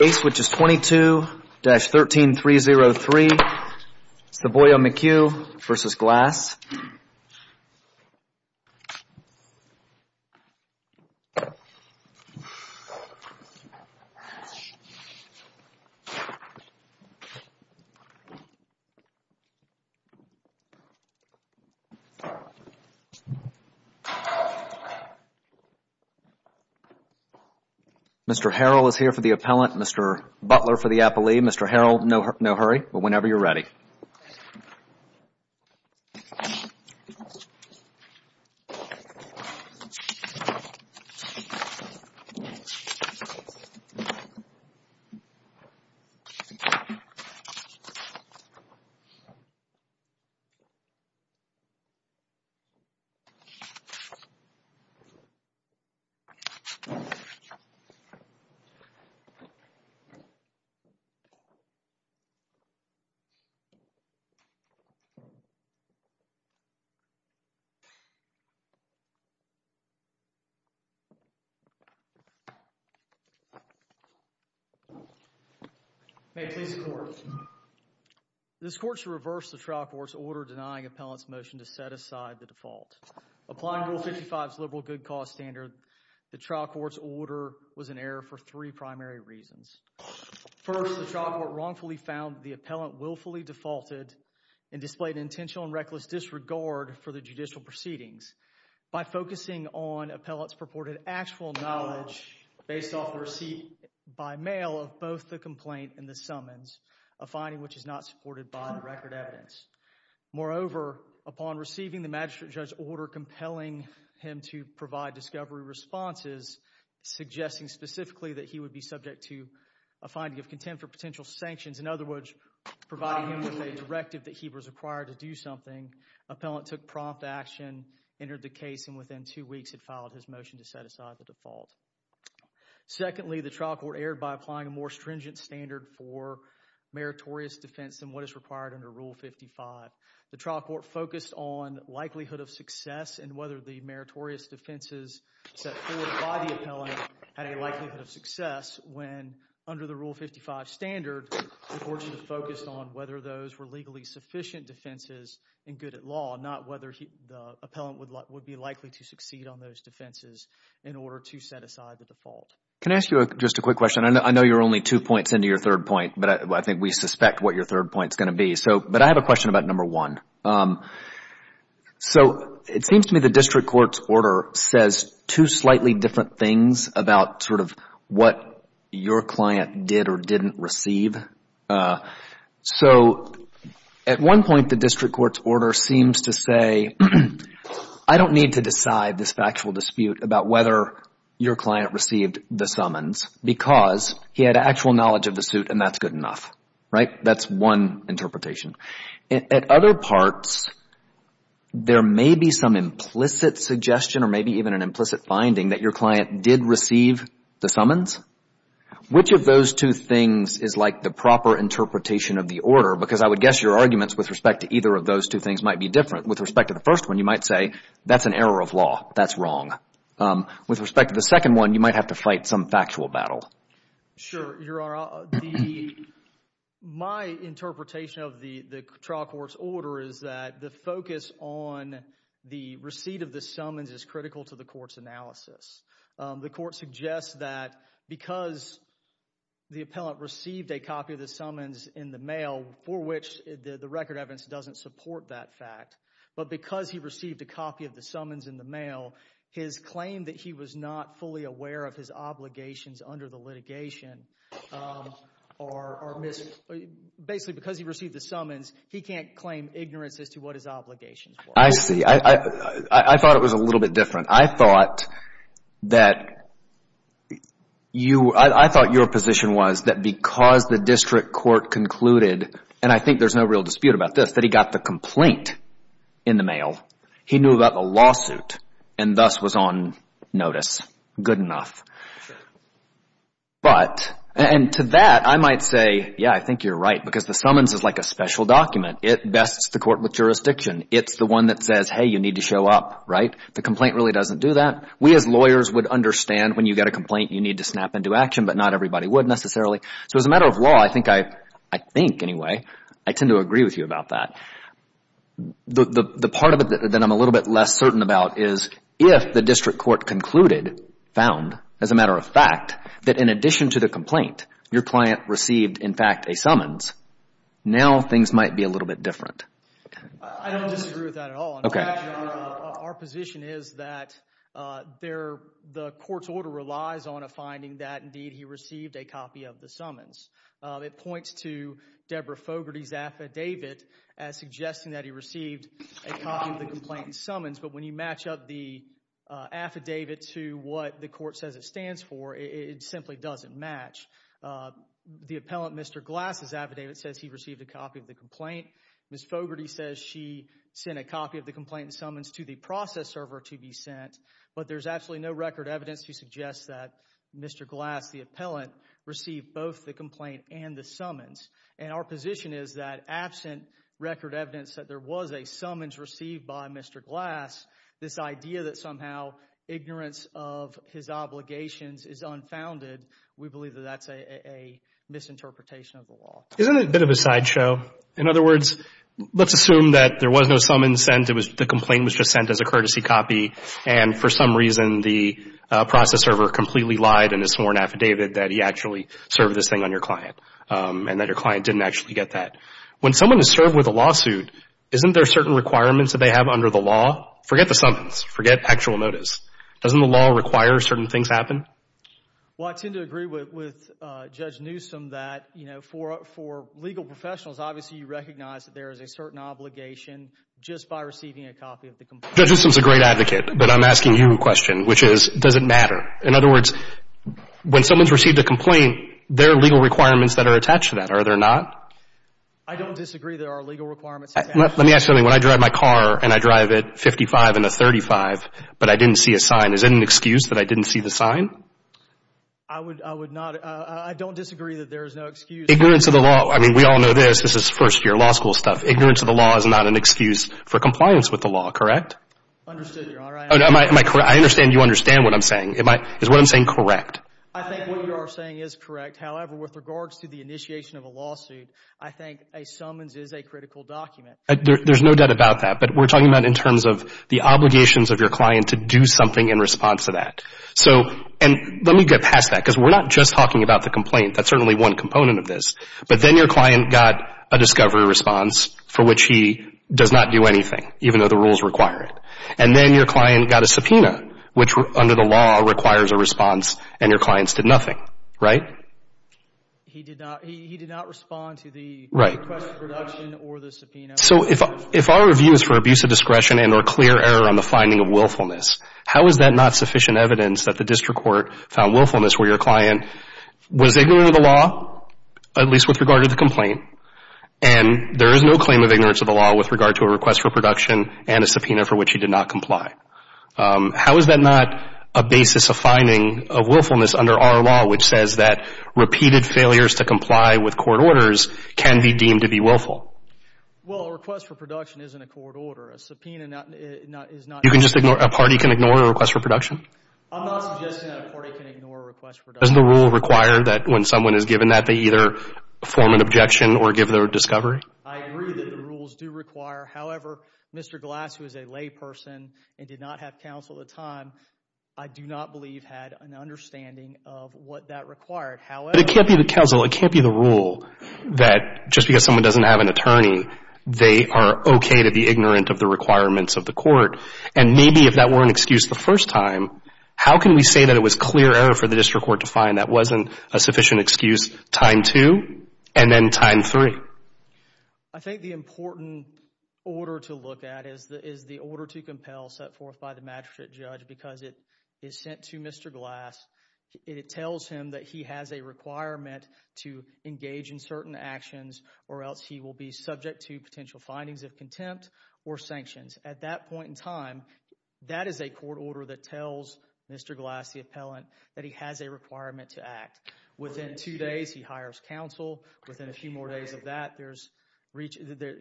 Ace which is 22-13303 Savoia-McHugh v. Glass Mr. Harrell is here for the appellant, Mr. Butler for the appellee, Mr. Harrell no hurry but whenever you're ready. May it please the court. This court should reverse the trial court's order denying appellant's motion to set aside the default. Applying Rule 55's liberal good cause standard, the trial court's order was in error for three primary reasons. First, the trial court wrongfully found the appellant willfully defaulted and displayed intentional and reckless disregard for the judicial proceedings. By focusing on appellant's purported actual knowledge based off the receipt by mail of both the complaint and the summons, a finding which is not supported by the record evidence. Moreover, upon receiving the magistrate judge's order compelling him to provide discovery responses, suggesting specifically that he would be subject to a finding of contempt for potential sanctions. In other words, providing him with a directive that he was required to do something. Appellant took prompt action, entered the case and within two weeks had filed his motion to set aside the default. Secondly, the trial court erred by applying a more stringent standard for meritorious defense than what is required under Rule 55. The trial court focused on likelihood of success and whether the meritorious defenses set forward by the appellant had a likelihood of success when under the Rule 55 standard, the court should have focused on whether those were legally sufficient defenses and good at law, not whether the appellant would be likely to succeed on those defenses in order to set aside the default. Can I ask you just a quick question? I know you're only two points into your third point, but I think we suspect what your third point is going to be. But I have a question about number one. So it seems to me the district court's order says two slightly different things about sort of what your client did or didn't receive. So at one point, the district court's order seems to say, I don't need to decide this factual dispute about whether your client received the summons because he had actual knowledge of the suit and that's good enough, right? That's one interpretation. At other parts, there may be some implicit suggestion or maybe even an implicit finding that your client did receive the summons. Which of those two things is like the proper interpretation of the order? Because I would guess your arguments with respect to either of those two things might be different. With respect to the first one, you might say that's an error of law. That's wrong. With respect to the second one, you might have to fight some factual battle. Sure. Your Honor, my interpretation of the trial court's order is that the focus on the receipt of the summons is critical to the court's analysis. The court suggests that because the appellant received a copy of the summons in the mail, for which the record evidence doesn't support that fact, but because he received a copy of the summons in the mail, his claim that he was not fully aware of his obligations under the litigation are missing. Basically, because he received the summons, he can't claim ignorance as to what his obligations were. I see. I thought it was a little bit different. I thought that you, I thought your position was that because the district court concluded, and I think there's no real dispute about this, that he got the complaint in the mail, he knew about the lawsuit and thus was on notice. Good enough. But and to that, I might say, yeah, I think you're right because the summons is like a special document. It bests the court with jurisdiction. It's the one that says, hey, you need to show up, right? The complaint really doesn't do that. We as lawyers would understand when you get a complaint, you need to snap into action, but not everybody would necessarily. So as a matter of law, I think I, I think anyway, I tend to agree with you about that. The, the, the part of it that I'm a little bit less certain about is if the district court concluded, found, as a matter of fact, that in addition to the complaint, your client received, in fact, a summons, now things might be a little bit different. I don't disagree with that at all. Our position is that there, the court's order relies on a finding that indeed he received a copy of the summons. It points to Deborah Fogarty's affidavit as suggesting that he received a copy of the complaint and summons, but when you match up the affidavit to what the court says it stands for, it simply doesn't match. The appellant, Mr. Glass' affidavit says he received a copy of the complaint. Ms. Fogarty says she sent a copy of the complaint and summons to the process server to be sent, but there's absolutely no record evidence to suggest that Mr. Glass, the appellant, received both the complaint and the summons. And our position is that absent record evidence that there was a summons received by Mr. Glass, this idea that somehow ignorance of his obligations is unfounded, we believe that that's a misinterpretation of the law. Isn't it a bit of a sideshow? In other words, let's assume that there was no summons sent, the complaint was just sent as a courtesy copy, and for some reason the process server completely lied in its sworn affidavit that he actually served this thing on your client, and that your client didn't actually get that. When someone is served with a lawsuit, isn't there certain requirements that they have under the law? Forget the summons. Forget actual notice. Doesn't the law require certain things happen? Well, I tend to agree with Judge Newsom that for legal professionals, obviously you recognize that there is a certain obligation just by receiving a copy of the complaint. Judge Newsom's a great advocate, but I'm asking you a question, which is, does it matter? In other words, when someone's received a complaint, there are legal requirements that are attached to that, are there not? I don't disagree there are legal requirements attached to that. Let me ask you something. When I drive my car and I drive it 55 in a 35, but I didn't see a sign, is it an excuse that I didn't see the sign? I would not, I don't disagree that there is no excuse. Ignorance of the law, I mean, we all know this, this is first year law school stuff. Ignorance of the law is not an excuse for compliance with the law, correct? Understood, Your Honor. Am I correct? I understand you understand what I'm saying. Am I, is what I'm saying correct? I think what you are saying is correct, however, with regards to the initiation of a lawsuit, I think a summons is a critical document. There's no doubt about that, but we're talking about in terms of the obligations of your client to do something in response to that. So, and let me get past that, because we're not just talking about the complaint, that's certainly one component of this, but then your client got a discovery response for which he does not do anything, even though the rules require it, and then your client got a subpoena, which under the law requires a response, and your clients did nothing, right? He did not, he did not respond to the request for production or the subpoena. So if our review is for abuse of discretion and or clear error on the finding of willfulness, how is that not sufficient evidence that the district court found willfulness where your client was ignorant of the law, at least with regard to the complaint, and there is no claim of ignorance of the law with regard to a request for production and a subpoena for which he did not comply? How is that not a basis of finding of willfulness under our law, which says that repeated failures to comply with court orders can be deemed to be willful? Well, a request for production isn't a court order. A subpoena is not... You can just ignore, a party can ignore a request for production? I'm not suggesting that a party can ignore a request for production. Doesn't the rule require that when someone is given that, they either form an objection or give their discovery? I agree that the rules do require, however, Mr. Glass, who is a layperson and did not have counsel at the time, I do not believe had an understanding of what that required. However... But it can't be the counsel, it can't be the rule that just because someone doesn't have an attorney, they are okay to be ignorant of the requirements of the court. And maybe if that were an excuse the first time, how can we say that it was clear error for the district court to find that wasn't a sufficient excuse time two and then time three? I think the important order to look at is the order to compel set forth by the magistrate judge because it is sent to Mr. Glass, it tells him that he has a requirement to engage in certain actions or else he will be subject to potential findings of contempt or sanctions. At that point in time, that is a court order that tells Mr. Glass, the appellant, that he has a requirement to act. Within two days, he hires counsel. Within a few more days of that,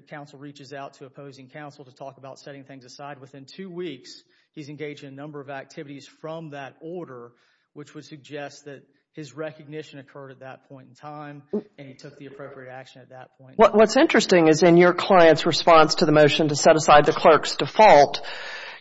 counsel reaches out to opposing counsel to talk about setting things aside. Within two weeks, he is engaged in a number of activities from that order, which would suggest that his recognition occurred at that point in time and he took the appropriate action at that point. What is interesting is in your client's response to the motion to set aside the clerk's default,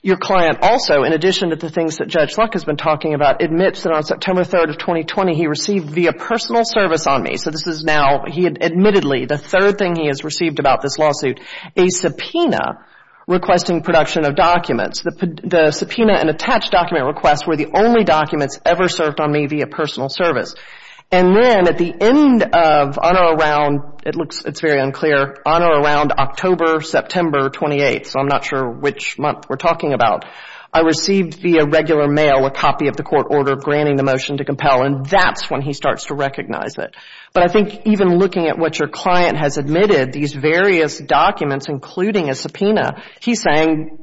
your client also, in addition to the things that Judge Luck has been talking about, admits that on September 3, 2020, he received via personal service on me, so this is now, admittedly, the third thing he has received about this lawsuit, a subpoena requesting production of documents. The subpoena and attached document requests were the only documents ever served on me via personal service. And then at the end of, on or around, it's very unclear, on or around October, September 28, so I'm not sure which month we're talking about, I received via regular mail a copy of the court order granting the motion to compel and that's when he starts to recognize it. But I think even looking at what your client has admitted, these various documents, including a subpoena, he's saying,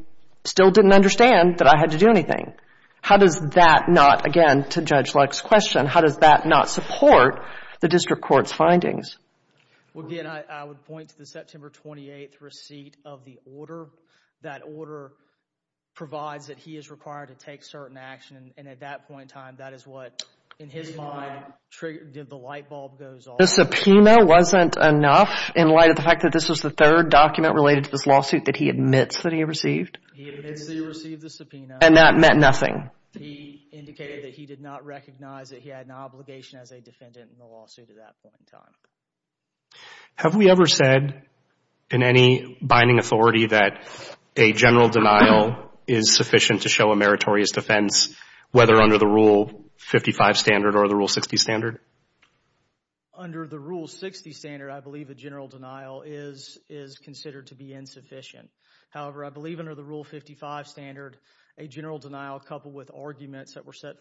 still didn't understand that I had to do anything. How does that not, again, to Judge Luck's question, how does that not support the district court's findings? Well, again, I would point to the September 28th receipt of the order. That order provides that he is required to take certain action and at that point in time, that is what, in his mind, triggered, did the light bulb goes off. The subpoena wasn't enough in light of the fact that this was the third document related to this lawsuit that he admits that he received? He admits that he received the subpoena. And that meant nothing? He indicated that he did not recognize that he had an obligation as a defendant in the lawsuit at that point in time. Have we ever said, in any binding authority, that a general denial is sufficient to show a meritorious defense, whether under the Rule 55 standard or the Rule 60 standard? Under the Rule 60 standard, I believe a general denial is considered to be insufficient. However, I believe under the Rule 55 standard, a general denial coupled with arguments that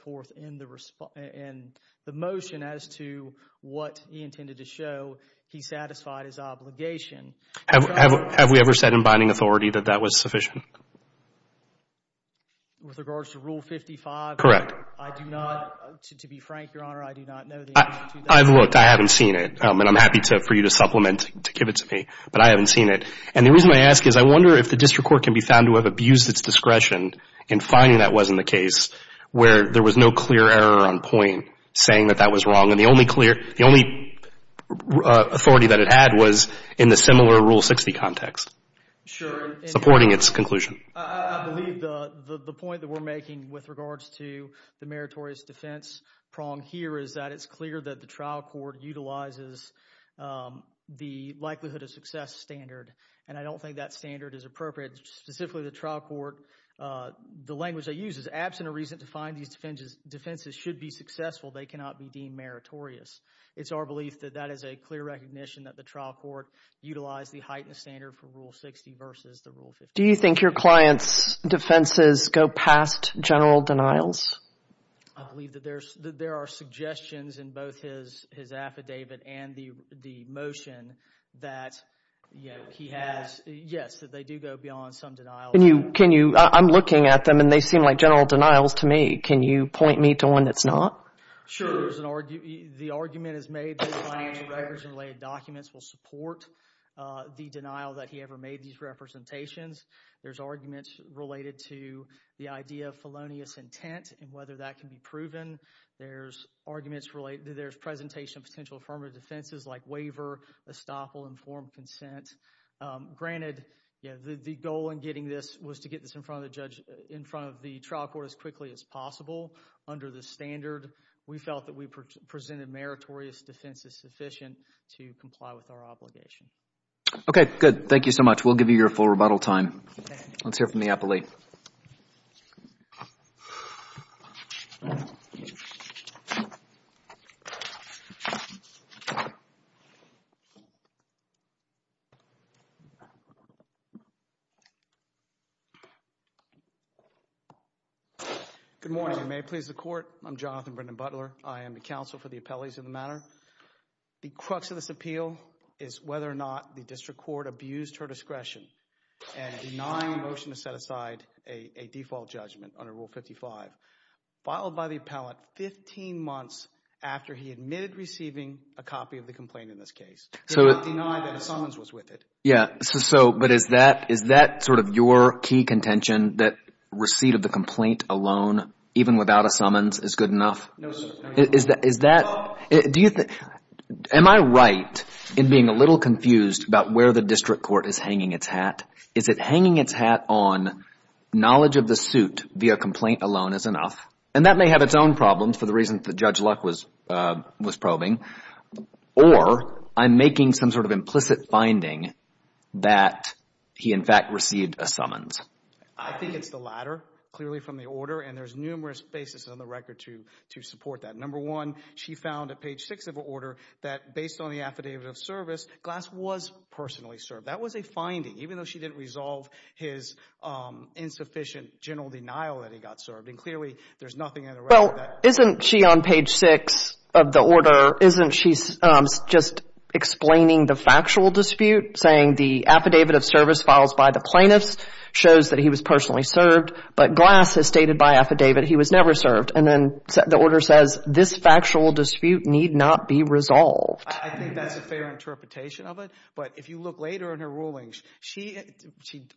in the motion as to what he intended to show, he satisfied his obligation. Have we ever said in binding authority that that was sufficient? With regards to Rule 55? Correct. I do not, to be frank, Your Honor, I do not know the answer to that. I've looked. I haven't seen it. And I'm happy for you to supplement, to give it to me, but I haven't seen it. And the reason I ask is I wonder if the district court can be found to have abused its discretion in finding that wasn't the case, where there was no clear error on point saying that that was wrong. And the only clear, the only authority that it had was in the similar Rule 60 context. Sure. Supporting its conclusion. I believe the point that we're making with regards to the meritorious defense prong here is that it's clear that the trial court utilizes the likelihood of success standard. And I don't think that standard is appropriate. Specifically, the trial court, the language they use is, absent a reason to find these defenses should be successful, they cannot be deemed meritorious. It's our belief that that is a clear recognition that the trial court utilized the heightened standard for Rule 60 versus the Rule 55. Do you think your client's defenses go past general denials? I believe that there are suggestions in both his affidavit and the motion that, you know, that he has, yes, that they do go beyond some denials. Can you, I'm looking at them and they seem like general denials to me. Can you point me to one that's not? Sure. There's an argument, the argument is made that the financial records and related documents will support the denial that he ever made these representations. There's arguments related to the idea of felonious intent and whether that can be proven. There's arguments related, there's presentation of potential affirmative defenses like waiver, estoppel, informed consent. Granted, you know, the goal in getting this was to get this in front of the judge, in front of the trial court as quickly as possible under the standard. We felt that we presented meritorious defenses sufficient to comply with our obligation. Okay, good. Thank you so much. We'll give you your full rebuttal time. Okay. Let's hear from the appellee. Good morning, and may it please the court, I'm Jonathan Brendan Butler. I am the counsel for the appellees of the matter. The crux of this appeal is whether or not the district court abused her discretion and denied a motion to set aside a default judgment under Rule 55, filed by the appellant 15 months after he admitted receiving a copy of the complaint in this case, did not deny that a summons was with it. Yeah. So, but is that sort of your key contention that receipt of the complaint alone, even without a summons, is good enough? No, sir. Is that, do you think, am I right in being a little confused about where the district court is hanging its hat? Is it hanging its hat on knowledge of the suit via complaint alone is enough? And that may have its own problems for the reasons that Judge Luck was probing, or I'm making some sort of implicit finding that he, in fact, received a summons. I think it's the latter, clearly from the order, and there's numerous basis on the record to support that. Number one, she found at page six of her order that based on the affidavit of service, Glass was personally served. That was a finding, even though she didn't resolve his insufficient general denial that he got served. And clearly, there's nothing in the record that... Well, isn't she on page six of the order, isn't she just explaining the factual dispute, saying the affidavit of service files by the plaintiffs shows that he was personally served, but Glass has stated by affidavit he was never served. And then the order says, this factual dispute need not be resolved. I think that's a fair interpretation of it, but if you look later in her rulings, she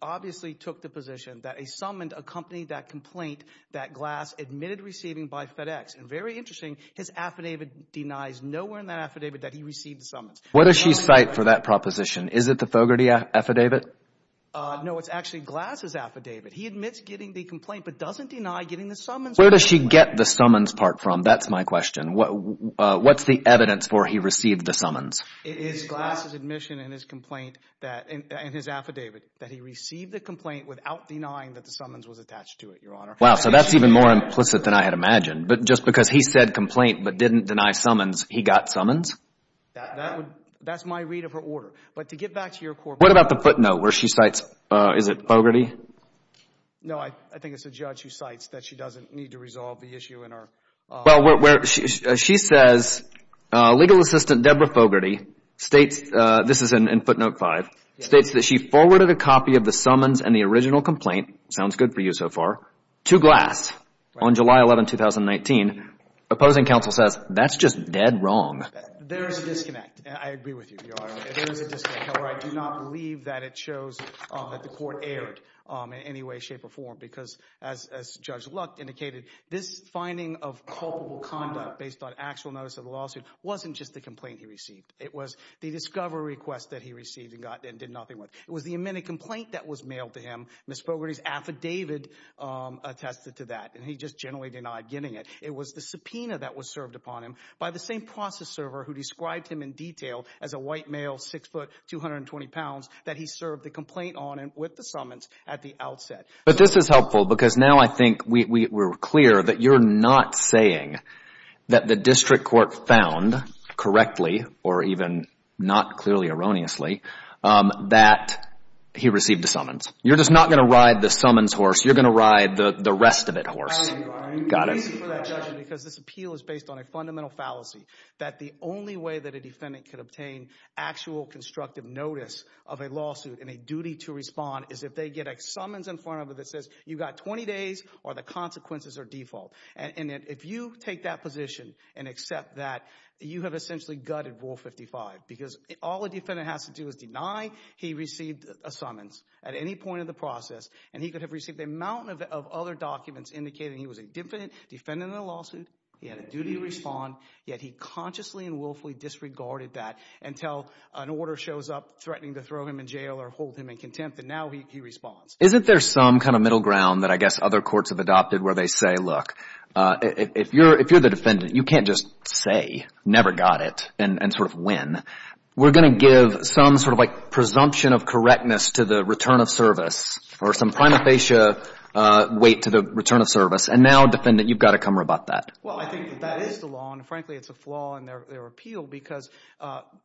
obviously took the position that a summons accompanied that complaint that Glass admitted receiving by FedEx. And very interesting, his affidavit denies nowhere in that affidavit that he received the summons. Where does she cite for that proposition? Is it the Fogarty affidavit? No, it's actually Glass's affidavit. He admits getting the complaint, but doesn't deny getting the summons. Where does she get the summons part from? That's my question. What's the evidence for he received the summons? It is Glass's admission in his complaint that, in his affidavit, that he received the complaint without denying that the summons was attached to it, Your Honor. Wow, so that's even more implicit than I had imagined. But just because he said complaint but didn't deny summons, he got summons? That's my read of her order. But to get back to your court- What about the footnote where she cites, is it Fogarty? No, I think it's the judge who cites that she doesn't need to resolve the issue in her- Well, where she says, legal assistant Deborah Fogarty states, this is in footnote 5, states that she forwarded a copy of the summons and the original complaint, sounds good for you so far, to Glass on July 11, 2019. Opposing counsel says, that's just dead wrong. There's a disconnect, and I agree with you, Your Honor. There is a disconnect. However, I do not believe that it shows that the court erred in any way, shape, or form. Because as Judge Luck indicated, this finding of culpable conduct based on actual notice of the lawsuit, wasn't just the complaint he received. It was the discovery request that he received and did nothing with. It was the amended complaint that was mailed to him. Ms. Fogarty's affidavit attested to that, and he just generally denied getting it. It was the subpoena that was served upon him by the same process server who described him in detail as a white male, 6 foot, 220 pounds, that he served the complaint on and with the summons at the outset. But this is helpful, because now I think we're clear that you're not saying that the district court found correctly, or even not clearly erroneously, that he received the summons. You're just not going to ride the summons horse. You're going to ride the rest of it horse. Got it. Because this appeal is based on a fundamental fallacy. That the only way that a defendant could obtain actual constructive notice of a lawsuit and a duty to respond, is if they get a summons in front of it that says, you got 20 days or the consequences are default. And if you take that position and accept that, you have essentially gutted Rule 55. Because all a defendant has to do is deny he received a summons at any point in the process. And he could have received a mountain of other documents indicating he was a defendant in a lawsuit, he had a duty to respond. Yet he consciously and willfully disregarded that until an order shows up threatening to throw him in jail or hold him in contempt. And now he responds. Isn't there some kind of middle ground that I guess other courts have adopted where they say, look, if you're the defendant, you can't just say, never got it, and sort of win. We're going to give some sort of presumption of correctness to the return of service. Or some prima facie weight to the return of service. And now, defendant, you've got to come rebut that. Well, I think that is the law. And frankly, it's a flaw in their appeal. Because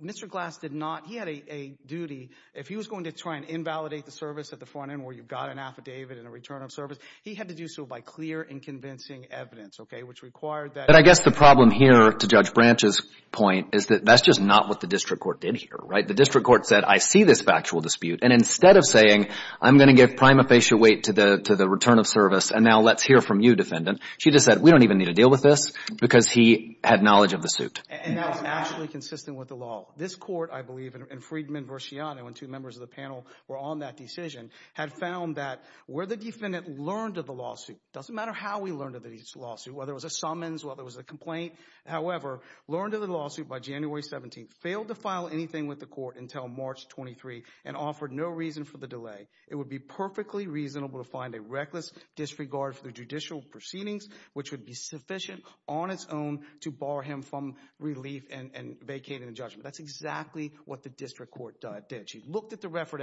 Mr. Glass did not, he had a duty, if he was going to try and invalidate the service at the front end where you've got an affidavit and a return of service, he had to do so by clear and convincing evidence, okay, which required that. But I guess the problem here, to Judge Branch's point, is that that's just not what the district court did here, right? The district court said, I see this factual dispute. And instead of saying, I'm going to give prima facie weight to the return of service. And now let's hear from you, defendant. She just said, we don't even need to deal with this because he had knowledge of the suit. And that was actually consistent with the law. This court, I believe, and Freedman versus Shiano and two members of the panel were on that decision, had found that where the defendant learned of the lawsuit, doesn't matter how he learned of the lawsuit, whether it was a summons, whether it was a complaint, however, learned of the lawsuit by January 17th, failed to file anything with the court until March 23, and offered no reason for the delay. It would be perfectly reasonable to find a reckless disregard for the judicial proceedings, which would be sufficient on its own to bar him from relief and vacating the judgment. That's exactly what the district court did. She looked at the record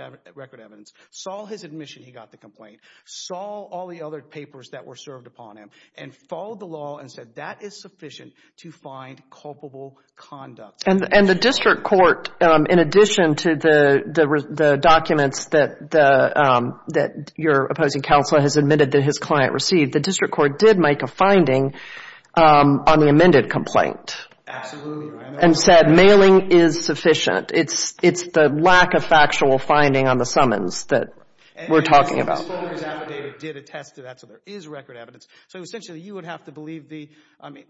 evidence, saw his admission he got the complaint, saw all the other papers that were served upon him, and followed the law and said, that is sufficient to find culpable conduct. And the district court, in addition to the documents that your opposing counsel has admitted that his client received, the district court did make a finding on the amended complaint. Absolutely. And said mailing is sufficient. It's the lack of factual finding on the summons that we're talking about. And the summons affidavit did attest to that, so there is record evidence. So essentially, you would have to believe the, I mean,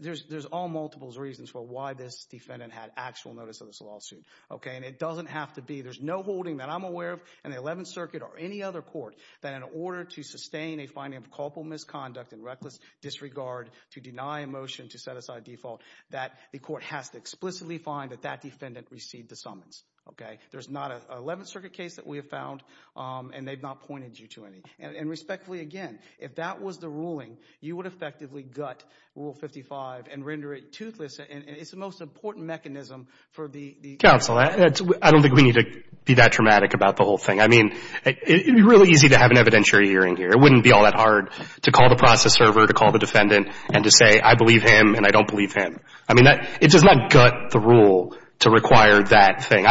there's all multiples reasons for why this defendant had actual notice of this lawsuit. Okay, and it doesn't have to be, there's no holding that I'm aware of in the 11th Circuit or any other court that in order to sustain a finding of culpable misconduct and reckless disregard to deny a motion to set aside default, that the court has to explicitly find that that defendant received the summons. Okay? There's not an 11th Circuit case that we have found, and they've not pointed you to any. And respectfully, again, if that was the ruling, you would effectively gut Rule 55 and render it toothless, and it's the most important mechanism for the... Counsel, I don't think we need to be that dramatic about the whole thing. I mean, it would be really easy to have an evidentiary hearing here. It wouldn't be all that hard to call the process server, to call the defendant, and to say, I believe him, and I don't believe him. I mean, it does not gut the rule to require that thing.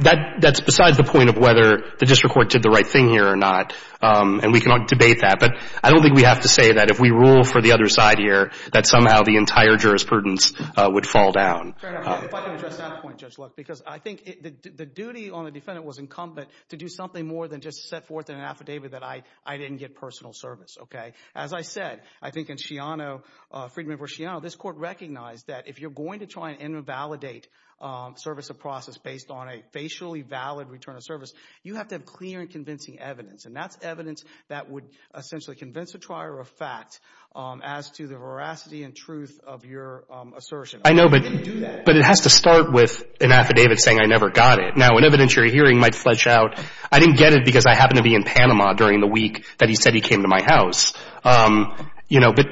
That's besides the point of whether the district court did the right thing here or not, and we can debate that. But I don't think we have to say that if we rule for the other side here, that somehow the entire jurisprudence would fall down. Fair enough. If I can address that point, Judge Luck, because I think the duty on the defendant was incumbent to do something more than just set forth in an affidavit that I didn't get personal service. Okay? As I said, I think in Shiano, freedman for Shiano, this court recognized that if you're going to try and invalidate service of process based on a facially valid return of service, you have to have clear and convincing evidence, and that's evidence that would essentially convince a trier of fact as to the veracity and truth of your assertion. I know, but it has to start with an affidavit saying I never got it. Now, in evidence you're hearing might fledge out, I didn't get it because I happened to be in Panama during the week that he said he came to my house. You know, but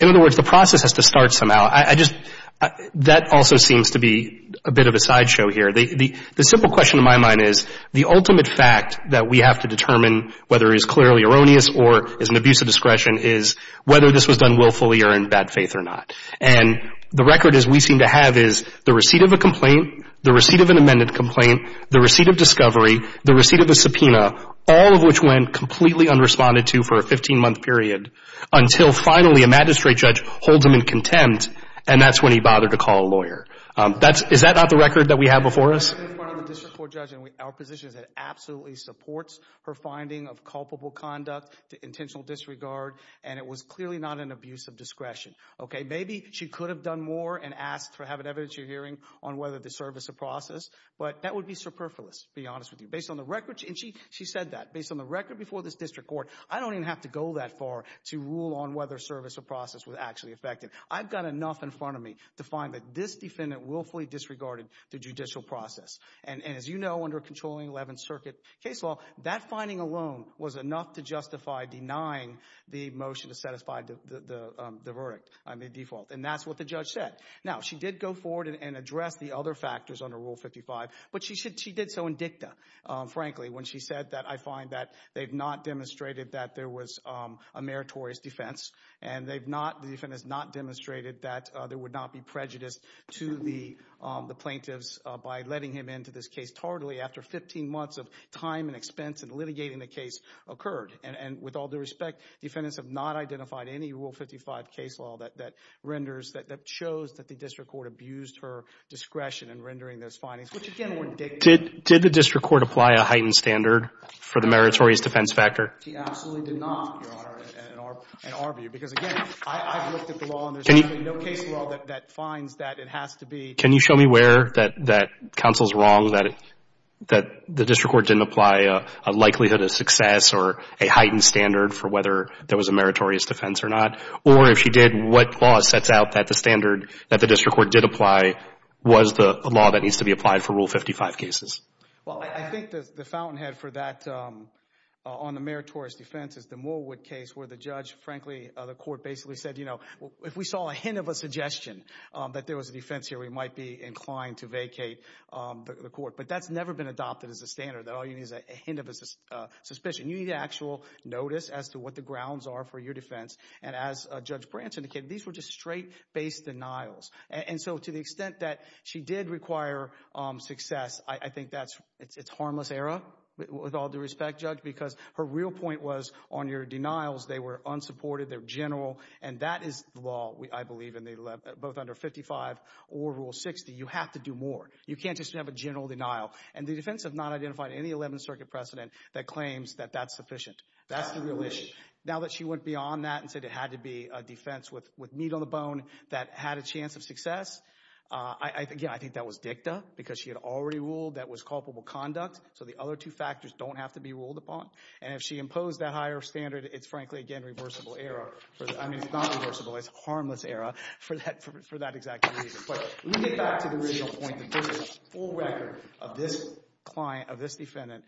in other words, the process has to start somehow. I just — that also seems to be a bit of a sideshow here. The simple question in my mind is the ultimate fact that we have to determine whether it is clearly erroneous or is an abuse of discretion is whether this was done willfully or in bad faith or not. And the record as we seem to have is the receipt of a complaint, the receipt of an amended complaint, the receipt of discovery, the receipt of a subpoena, all of which went completely unresponded to for a 15-month period until finally a magistrate judge holds him in contempt, and that's when he bothered to call a lawyer. That's — is that not the record that we have before us? I've been in front of a district court judge, and our position is it absolutely supports her finding of culpable conduct to intentional disregard, and it was clearly not an abuse of discretion. Maybe she could have done more and asked to have an evidence hearing on whether the service of process, but that would be superfluous, to be honest with you. Based on the record — and she said that. Based on the record before this district court, I don't even have to go that far to rule on whether service of process was actually affected. I've got enough in front of me to find that this defendant willfully disregarded the judicial process. And as you know, under a controlling 11th Circuit case law, that finding alone was enough to justify denying the motion to satisfy the verdict on the default, and that's what the judge said. Now, she did go forward and address the other factors under Rule 55, but she did so in dicta, frankly, when she said that I find that they've not demonstrated that there was a meritorious defense, and the defendant has not demonstrated that there would not be prejudice to the plaintiffs by letting him into this case tardily after 15 months of time and expense in litigating the case occurred. And with all due respect, defendants have not identified any Rule 55 case law that renders — that shows that the district court abused her discretion in rendering those findings, which, again, were dicta. Did the district court apply a heightened standard for the meritorious defense factor? He absolutely did not, Your Honor, in our view, because, again, I've looked at the law, and there's absolutely no case law that finds that it has to be — Can you show me where that counsel's wrong, that the district court didn't apply a likelihood of success or a heightened standard for whether there was a meritorious defense or not? Or if she did, what law sets out that the standard that the district court did apply was the law that needs to be applied for Rule 55 cases? Well, I think the fountainhead for that on the meritorious defense is the Morwood case where the judge — frankly, the court basically said, you know, if we saw a hint of a suggestion that there was a defense here, we might be inclined to vacate the court. But that's never been adopted as a standard, that all you need is a hint of a suspicion. You need actual notice as to what the grounds are for your defense. And as Judge Brant indicated, these were just straight-based denials. And so to the extent that she did require success, I think that's — it's harmless error, with all due respect, Judge, because her real point was on your denials, they were unsupported, they're general, and that is the law, I believe, in both under 55 or Rule 60. You have to do more. You can't just have a general denial. And the defense has not identified any Eleventh Circuit precedent that claims that that's sufficient. That's the real issue. Now that she went beyond that and said it had to be a defense with meat on the bone that had a chance of success, again, I think that was dicta because she had already ruled that was culpable conduct, so the other two factors don't have to be ruled upon. And if she imposed that higher standard, it's frankly, again, reversible error. I mean it's not reversible. It's harmless error for that exact reason. But let me get back to the original point that there is a full record of this client, of this defendant,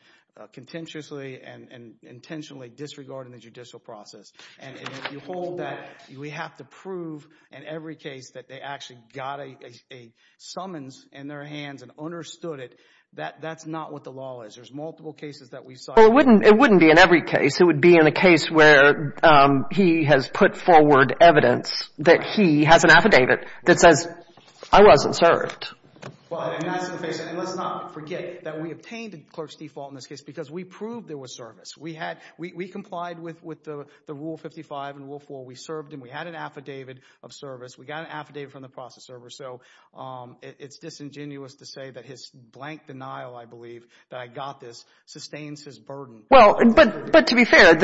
contemptuously and intentionally disregarding the judicial process. And if you hold that we have to prove in every case that they actually got a summons in their hands and understood it, that's not what the law is. There's multiple cases that we've cited. Well, it wouldn't be in every case. It would be in a case where he has put forward evidence that he has an affidavit that says I wasn't served. Well, and that's the case. And let's not forget that we obtained the clerk's default in this case because we proved there was service. We had we complied with the Rule 55 and Rule 4. We served him. We had an affidavit of service. We got an affidavit from the process server. So it's disingenuous to say that his blank denial, I believe, that I got this, sustains his burden. Well, but to be fair,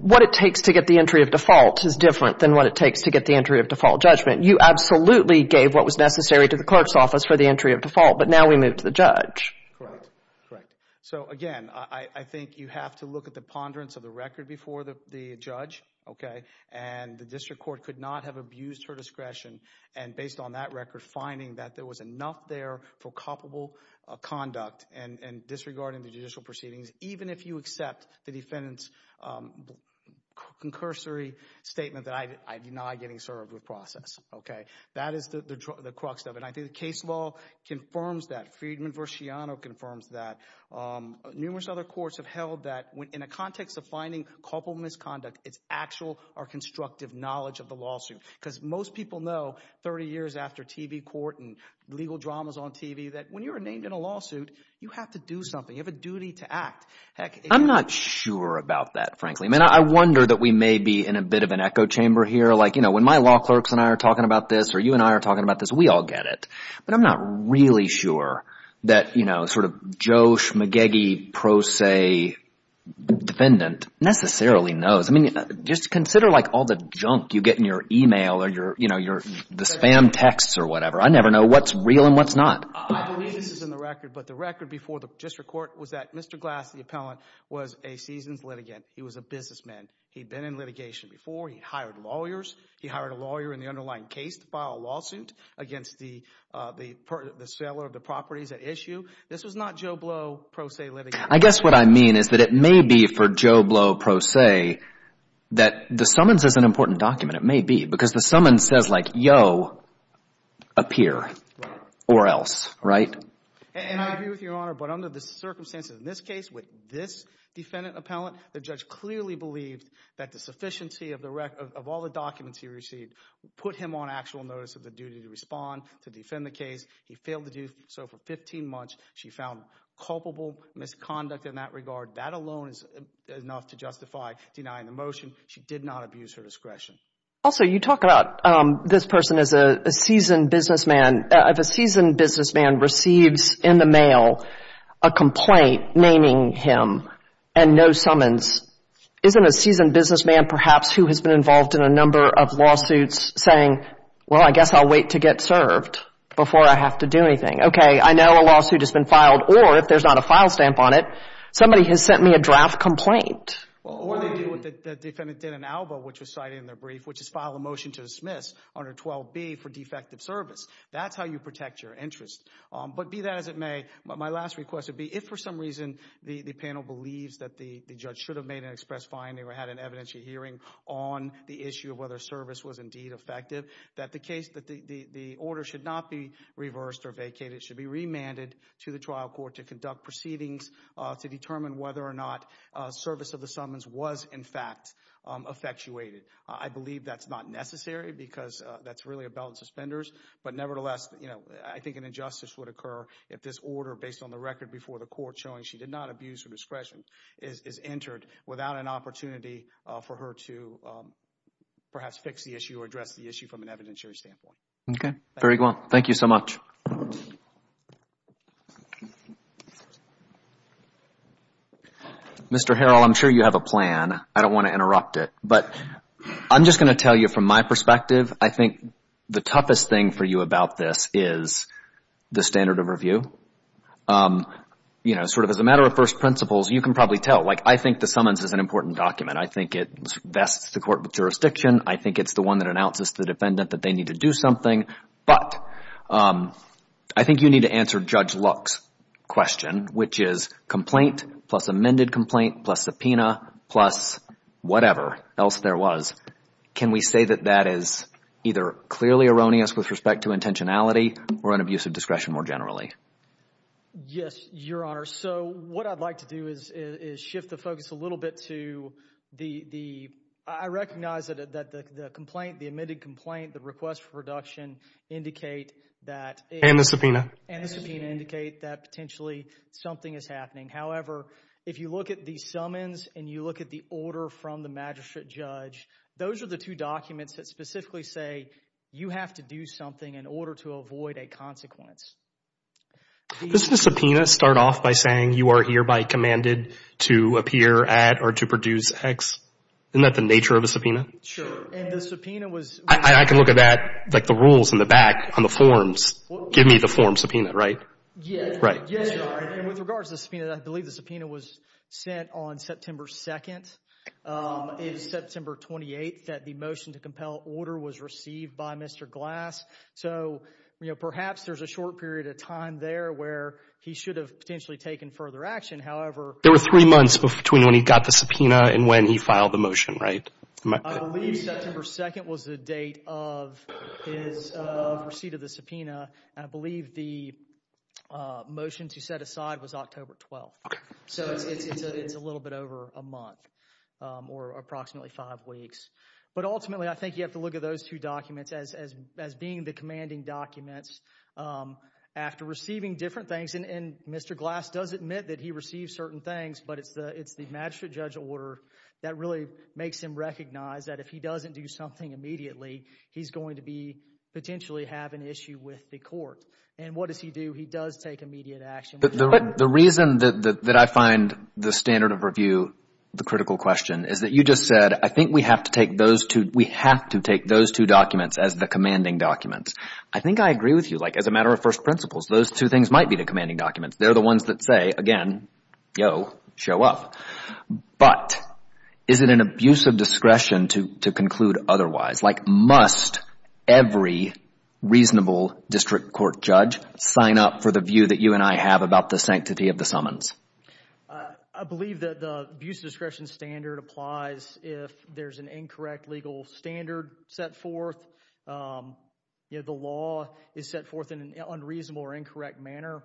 what it takes to get the entry of default is different than what it takes to get the entry of default judgment. You absolutely gave what was necessary to the clerk's office for the entry of default. But now we move to the judge. Correct. Correct. So, again, I think you have to look at the ponderance of the record before the judge. And the district court could not have abused her discretion. And based on that record, finding that there was enough there for culpable conduct and disregarding the judicial proceedings, even if you accept the defendant's concursory statement that I deny getting served with process. That is the crux of it. And I think the case law confirms that. Friedman v. Sciano confirms that. Numerous other courts have held that in a context of finding culpable misconduct, it's actual or constructive knowledge of the lawsuit. Because most people know 30 years after TV court and legal dramas on TV that when you're named in a lawsuit, you have to do something. You have a duty to act. I'm not sure about that, frankly. I mean I wonder that we may be in a bit of an echo chamber here. Like when my law clerks and I are talking about this or you and I are talking about this, we all get it. But I'm not really sure that sort of Joe Schmagegi Pro Se defendant necessarily knows. I mean just consider like all the junk you get in your email or the spam texts or whatever. I never know what's real and what's not. This is in the record, but the record before the district court was that Mr. Glass, the appellant, was a seasoned litigant. He was a businessman. He had been in litigation before. He hired lawyers. He hired a lawyer in the underlying case to file a lawsuit against the seller of the properties at issue. This was not Joe Blow Pro Se litigation. I guess what I mean is that it may be for Joe Blow Pro Se that the summons is an important document. It may be because the summons says like yo, appear or else, right? And I agree with you, Your Honor, but under the circumstances in this case with this defendant appellant, the judge clearly believed that the sufficiency of all the documents he received put him on actual notice of the duty to respond to defend the case. He failed to do so for 15 months. She found culpable misconduct in that regard. That alone is enough to justify denying the motion. She did not abuse her discretion. Also, you talk about this person as a seasoned businessman. If a seasoned businessman receives in the mail a complaint naming him and no summons, isn't a seasoned businessman perhaps who has been involved in a number of lawsuits saying, well, I guess I'll wait to get served before I have to do anything? Okay, I know a lawsuit has been filed, or if there's not a file stamp on it, somebody has sent me a draft complaint. Or they did what the defendant did in Alba, which was cited in their brief, which is file a motion to dismiss under 12B for defective service. That's how you protect your interest. But be that as it may, my last request would be if for some reason the panel believes that the judge should have made an express finding or had an evidentiary hearing on the issue of whether service was indeed effective, that the order should not be reversed or vacated. It should be remanded to the trial court to conduct proceedings to determine whether or not service of the summons was in fact effectuated. I believe that's not necessary because that's really a bell and suspenders. But nevertheless, I think an injustice would occur if this order, based on the record before the court showing she did not abuse her discretion, is entered without an opportunity for her to perhaps fix the issue or address the issue from an evidentiary standpoint. Okay. Very well. Thank you so much. Mr. Harrell, I'm sure you have a plan. I don't want to interrupt it, but I'm just going to tell you from my perspective, I think the toughest thing for you about this is the standard of review. You know, sort of as a matter of first principles, you can probably tell. Like, I think the summons is an important document. I think it vests the court with jurisdiction. I think it's the one that announces to the defendant that they need to do something. But I think you need to answer Judge Luck's question, which is complaint plus amended complaint plus subpoena plus whatever else there was. Can we say that that is either clearly erroneous with respect to intentionality or an abuse of discretion more generally? Yes, Your Honor. So what I'd like to do is shift the focus a little bit to the – I recognize that the complaint, the amended complaint, the request for reduction indicate that – And the subpoena. And the subpoena indicate that potentially something is happening. However, if you look at the summons and you look at the order from the magistrate judge, those are the two documents that specifically say you have to do something in order to avoid a consequence. Does the subpoena start off by saying you are hereby commanded to appear at or to produce X? Isn't that the nature of a subpoena? Sure. And the subpoena was – I can look at that, like the rules in the back on the forms. Give me the form subpoena, right? Yes, Your Honor. And with regards to the subpoena, I believe the subpoena was sent on September 2nd. It was September 28th that the motion to compel order was received by Mr. Glass. So, you know, perhaps there's a short period of time there where he should have potentially taken further action. However – There were three months between when he got the subpoena and when he filed the motion, right? I believe September 2nd was the date of his receipt of the subpoena. And I believe the motion to set aside was October 12th. So it's a little bit over a month or approximately five weeks. But ultimately, I think you have to look at those two documents as being the commanding documents. After receiving different things, and Mr. Glass does admit that he receives certain things, but it's the magistrate judge order that really makes him recognize that if he doesn't do something immediately, he's going to be – potentially have an issue with the court. And what does he do? He does take immediate action. The reason that I find the standard of review the critical question is that you just said, I think we have to take those two – we have to take those two documents as the commanding documents. I think I agree with you. Like, as a matter of first principles, those two things might be the commanding documents. They're the ones that say, again, yo, show up. But is it an abuse of discretion to conclude otherwise? Like, must every reasonable district court judge sign up for the view that you and I have about the sanctity of the summons? I believe that the abuse of discretion standard applies if there's an incorrect legal standard set forth. You know, the law is set forth in an unreasonable or incorrect manner.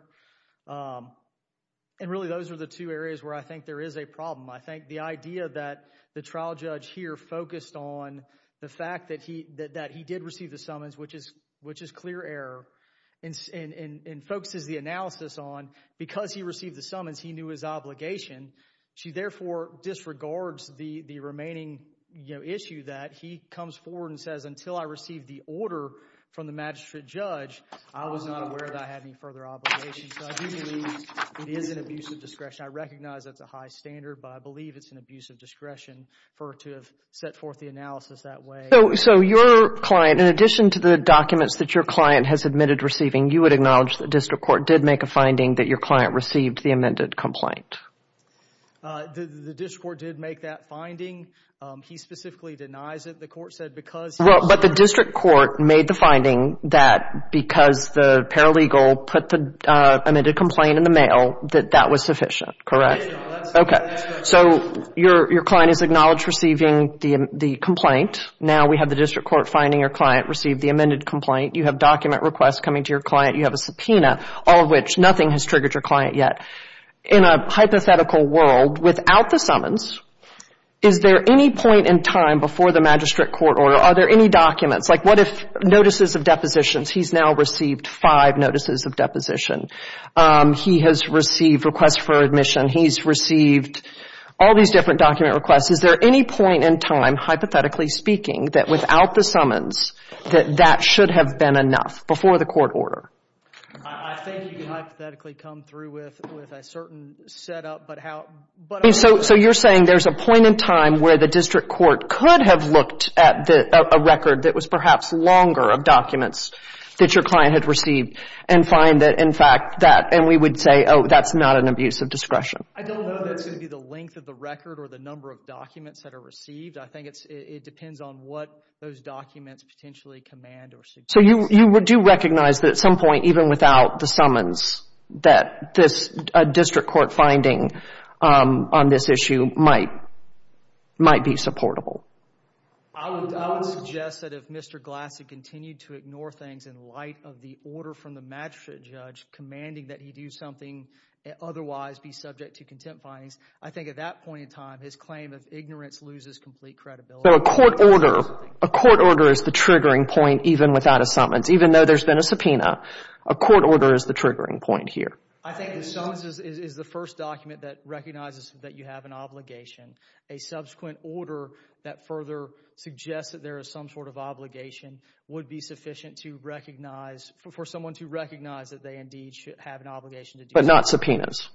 And really, those are the two areas where I think there is a problem. I think the idea that the trial judge here focused on the fact that he did receive the summons, which is clear error, and focuses the analysis on because he received the summons, he knew his obligation. She therefore disregards the remaining issue that he comes forward and says, until I received the order from the magistrate judge, I was not aware that I had any further obligation. So I do believe it is an abuse of discretion. I recognize that's a high standard, but I believe it's an abuse of discretion for her to have set forth the analysis that way. So your client, in addition to the documents that your client has admitted receiving, you would acknowledge that the district court did make a finding that your client received the amended complaint? The district court did make that finding. He specifically denies it. The court said because he was aware. The district court made the finding that because the paralegal put the amended complaint in the mail, that that was sufficient. Correct? Okay. So your client is acknowledged receiving the complaint. Now we have the district court finding your client received the amended complaint. You have document requests coming to your client. You have a subpoena, all of which nothing has triggered your client yet. In a hypothetical world, without the summons, is there any point in time before the magistrate court order, are there any documents, like what if notices of depositions, he's now received five notices of deposition. He has received requests for admission. He's received all these different document requests. Is there any point in time, hypothetically speaking, that without the summons, that that should have been enough before the court order? I think you can hypothetically come through with a certain setup. So you're saying there's a point in time where the district court could have looked at a record that was perhaps longer of documents that your client had received and find that, in fact, that, and we would say, oh, that's not an abuse of discretion. I don't know that's going to be the length of the record or the number of documents that are received. I think it depends on what those documents potentially command or suggest. So you do recognize that at some point, even without the summons, that a district court finding on this issue might be supportable. I would suggest that if Mr. Glass had continued to ignore things in light of the order from the magistrate judge commanding that he do something and otherwise be subject to contempt findings, I think at that point in time, his claim of ignorance loses complete credibility. But a court order, a court order is the triggering point even without a summons. Even though there's been a subpoena, a court order is the triggering point here. I think the summons is the first document that recognizes that you have an obligation. A subsequent order that further suggests that there is some sort of obligation would be sufficient to recognize, for someone to recognize that they indeed should have an obligation to do so. But not subpoenas.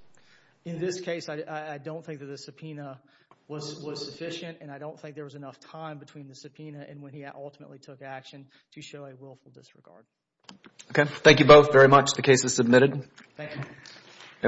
In this case, I don't think that the subpoena was sufficient, and I don't think there was enough time between the subpoena and when he ultimately took action to show a willful disregard. Okay. Thank you both very much. The case is submitted. Thank you.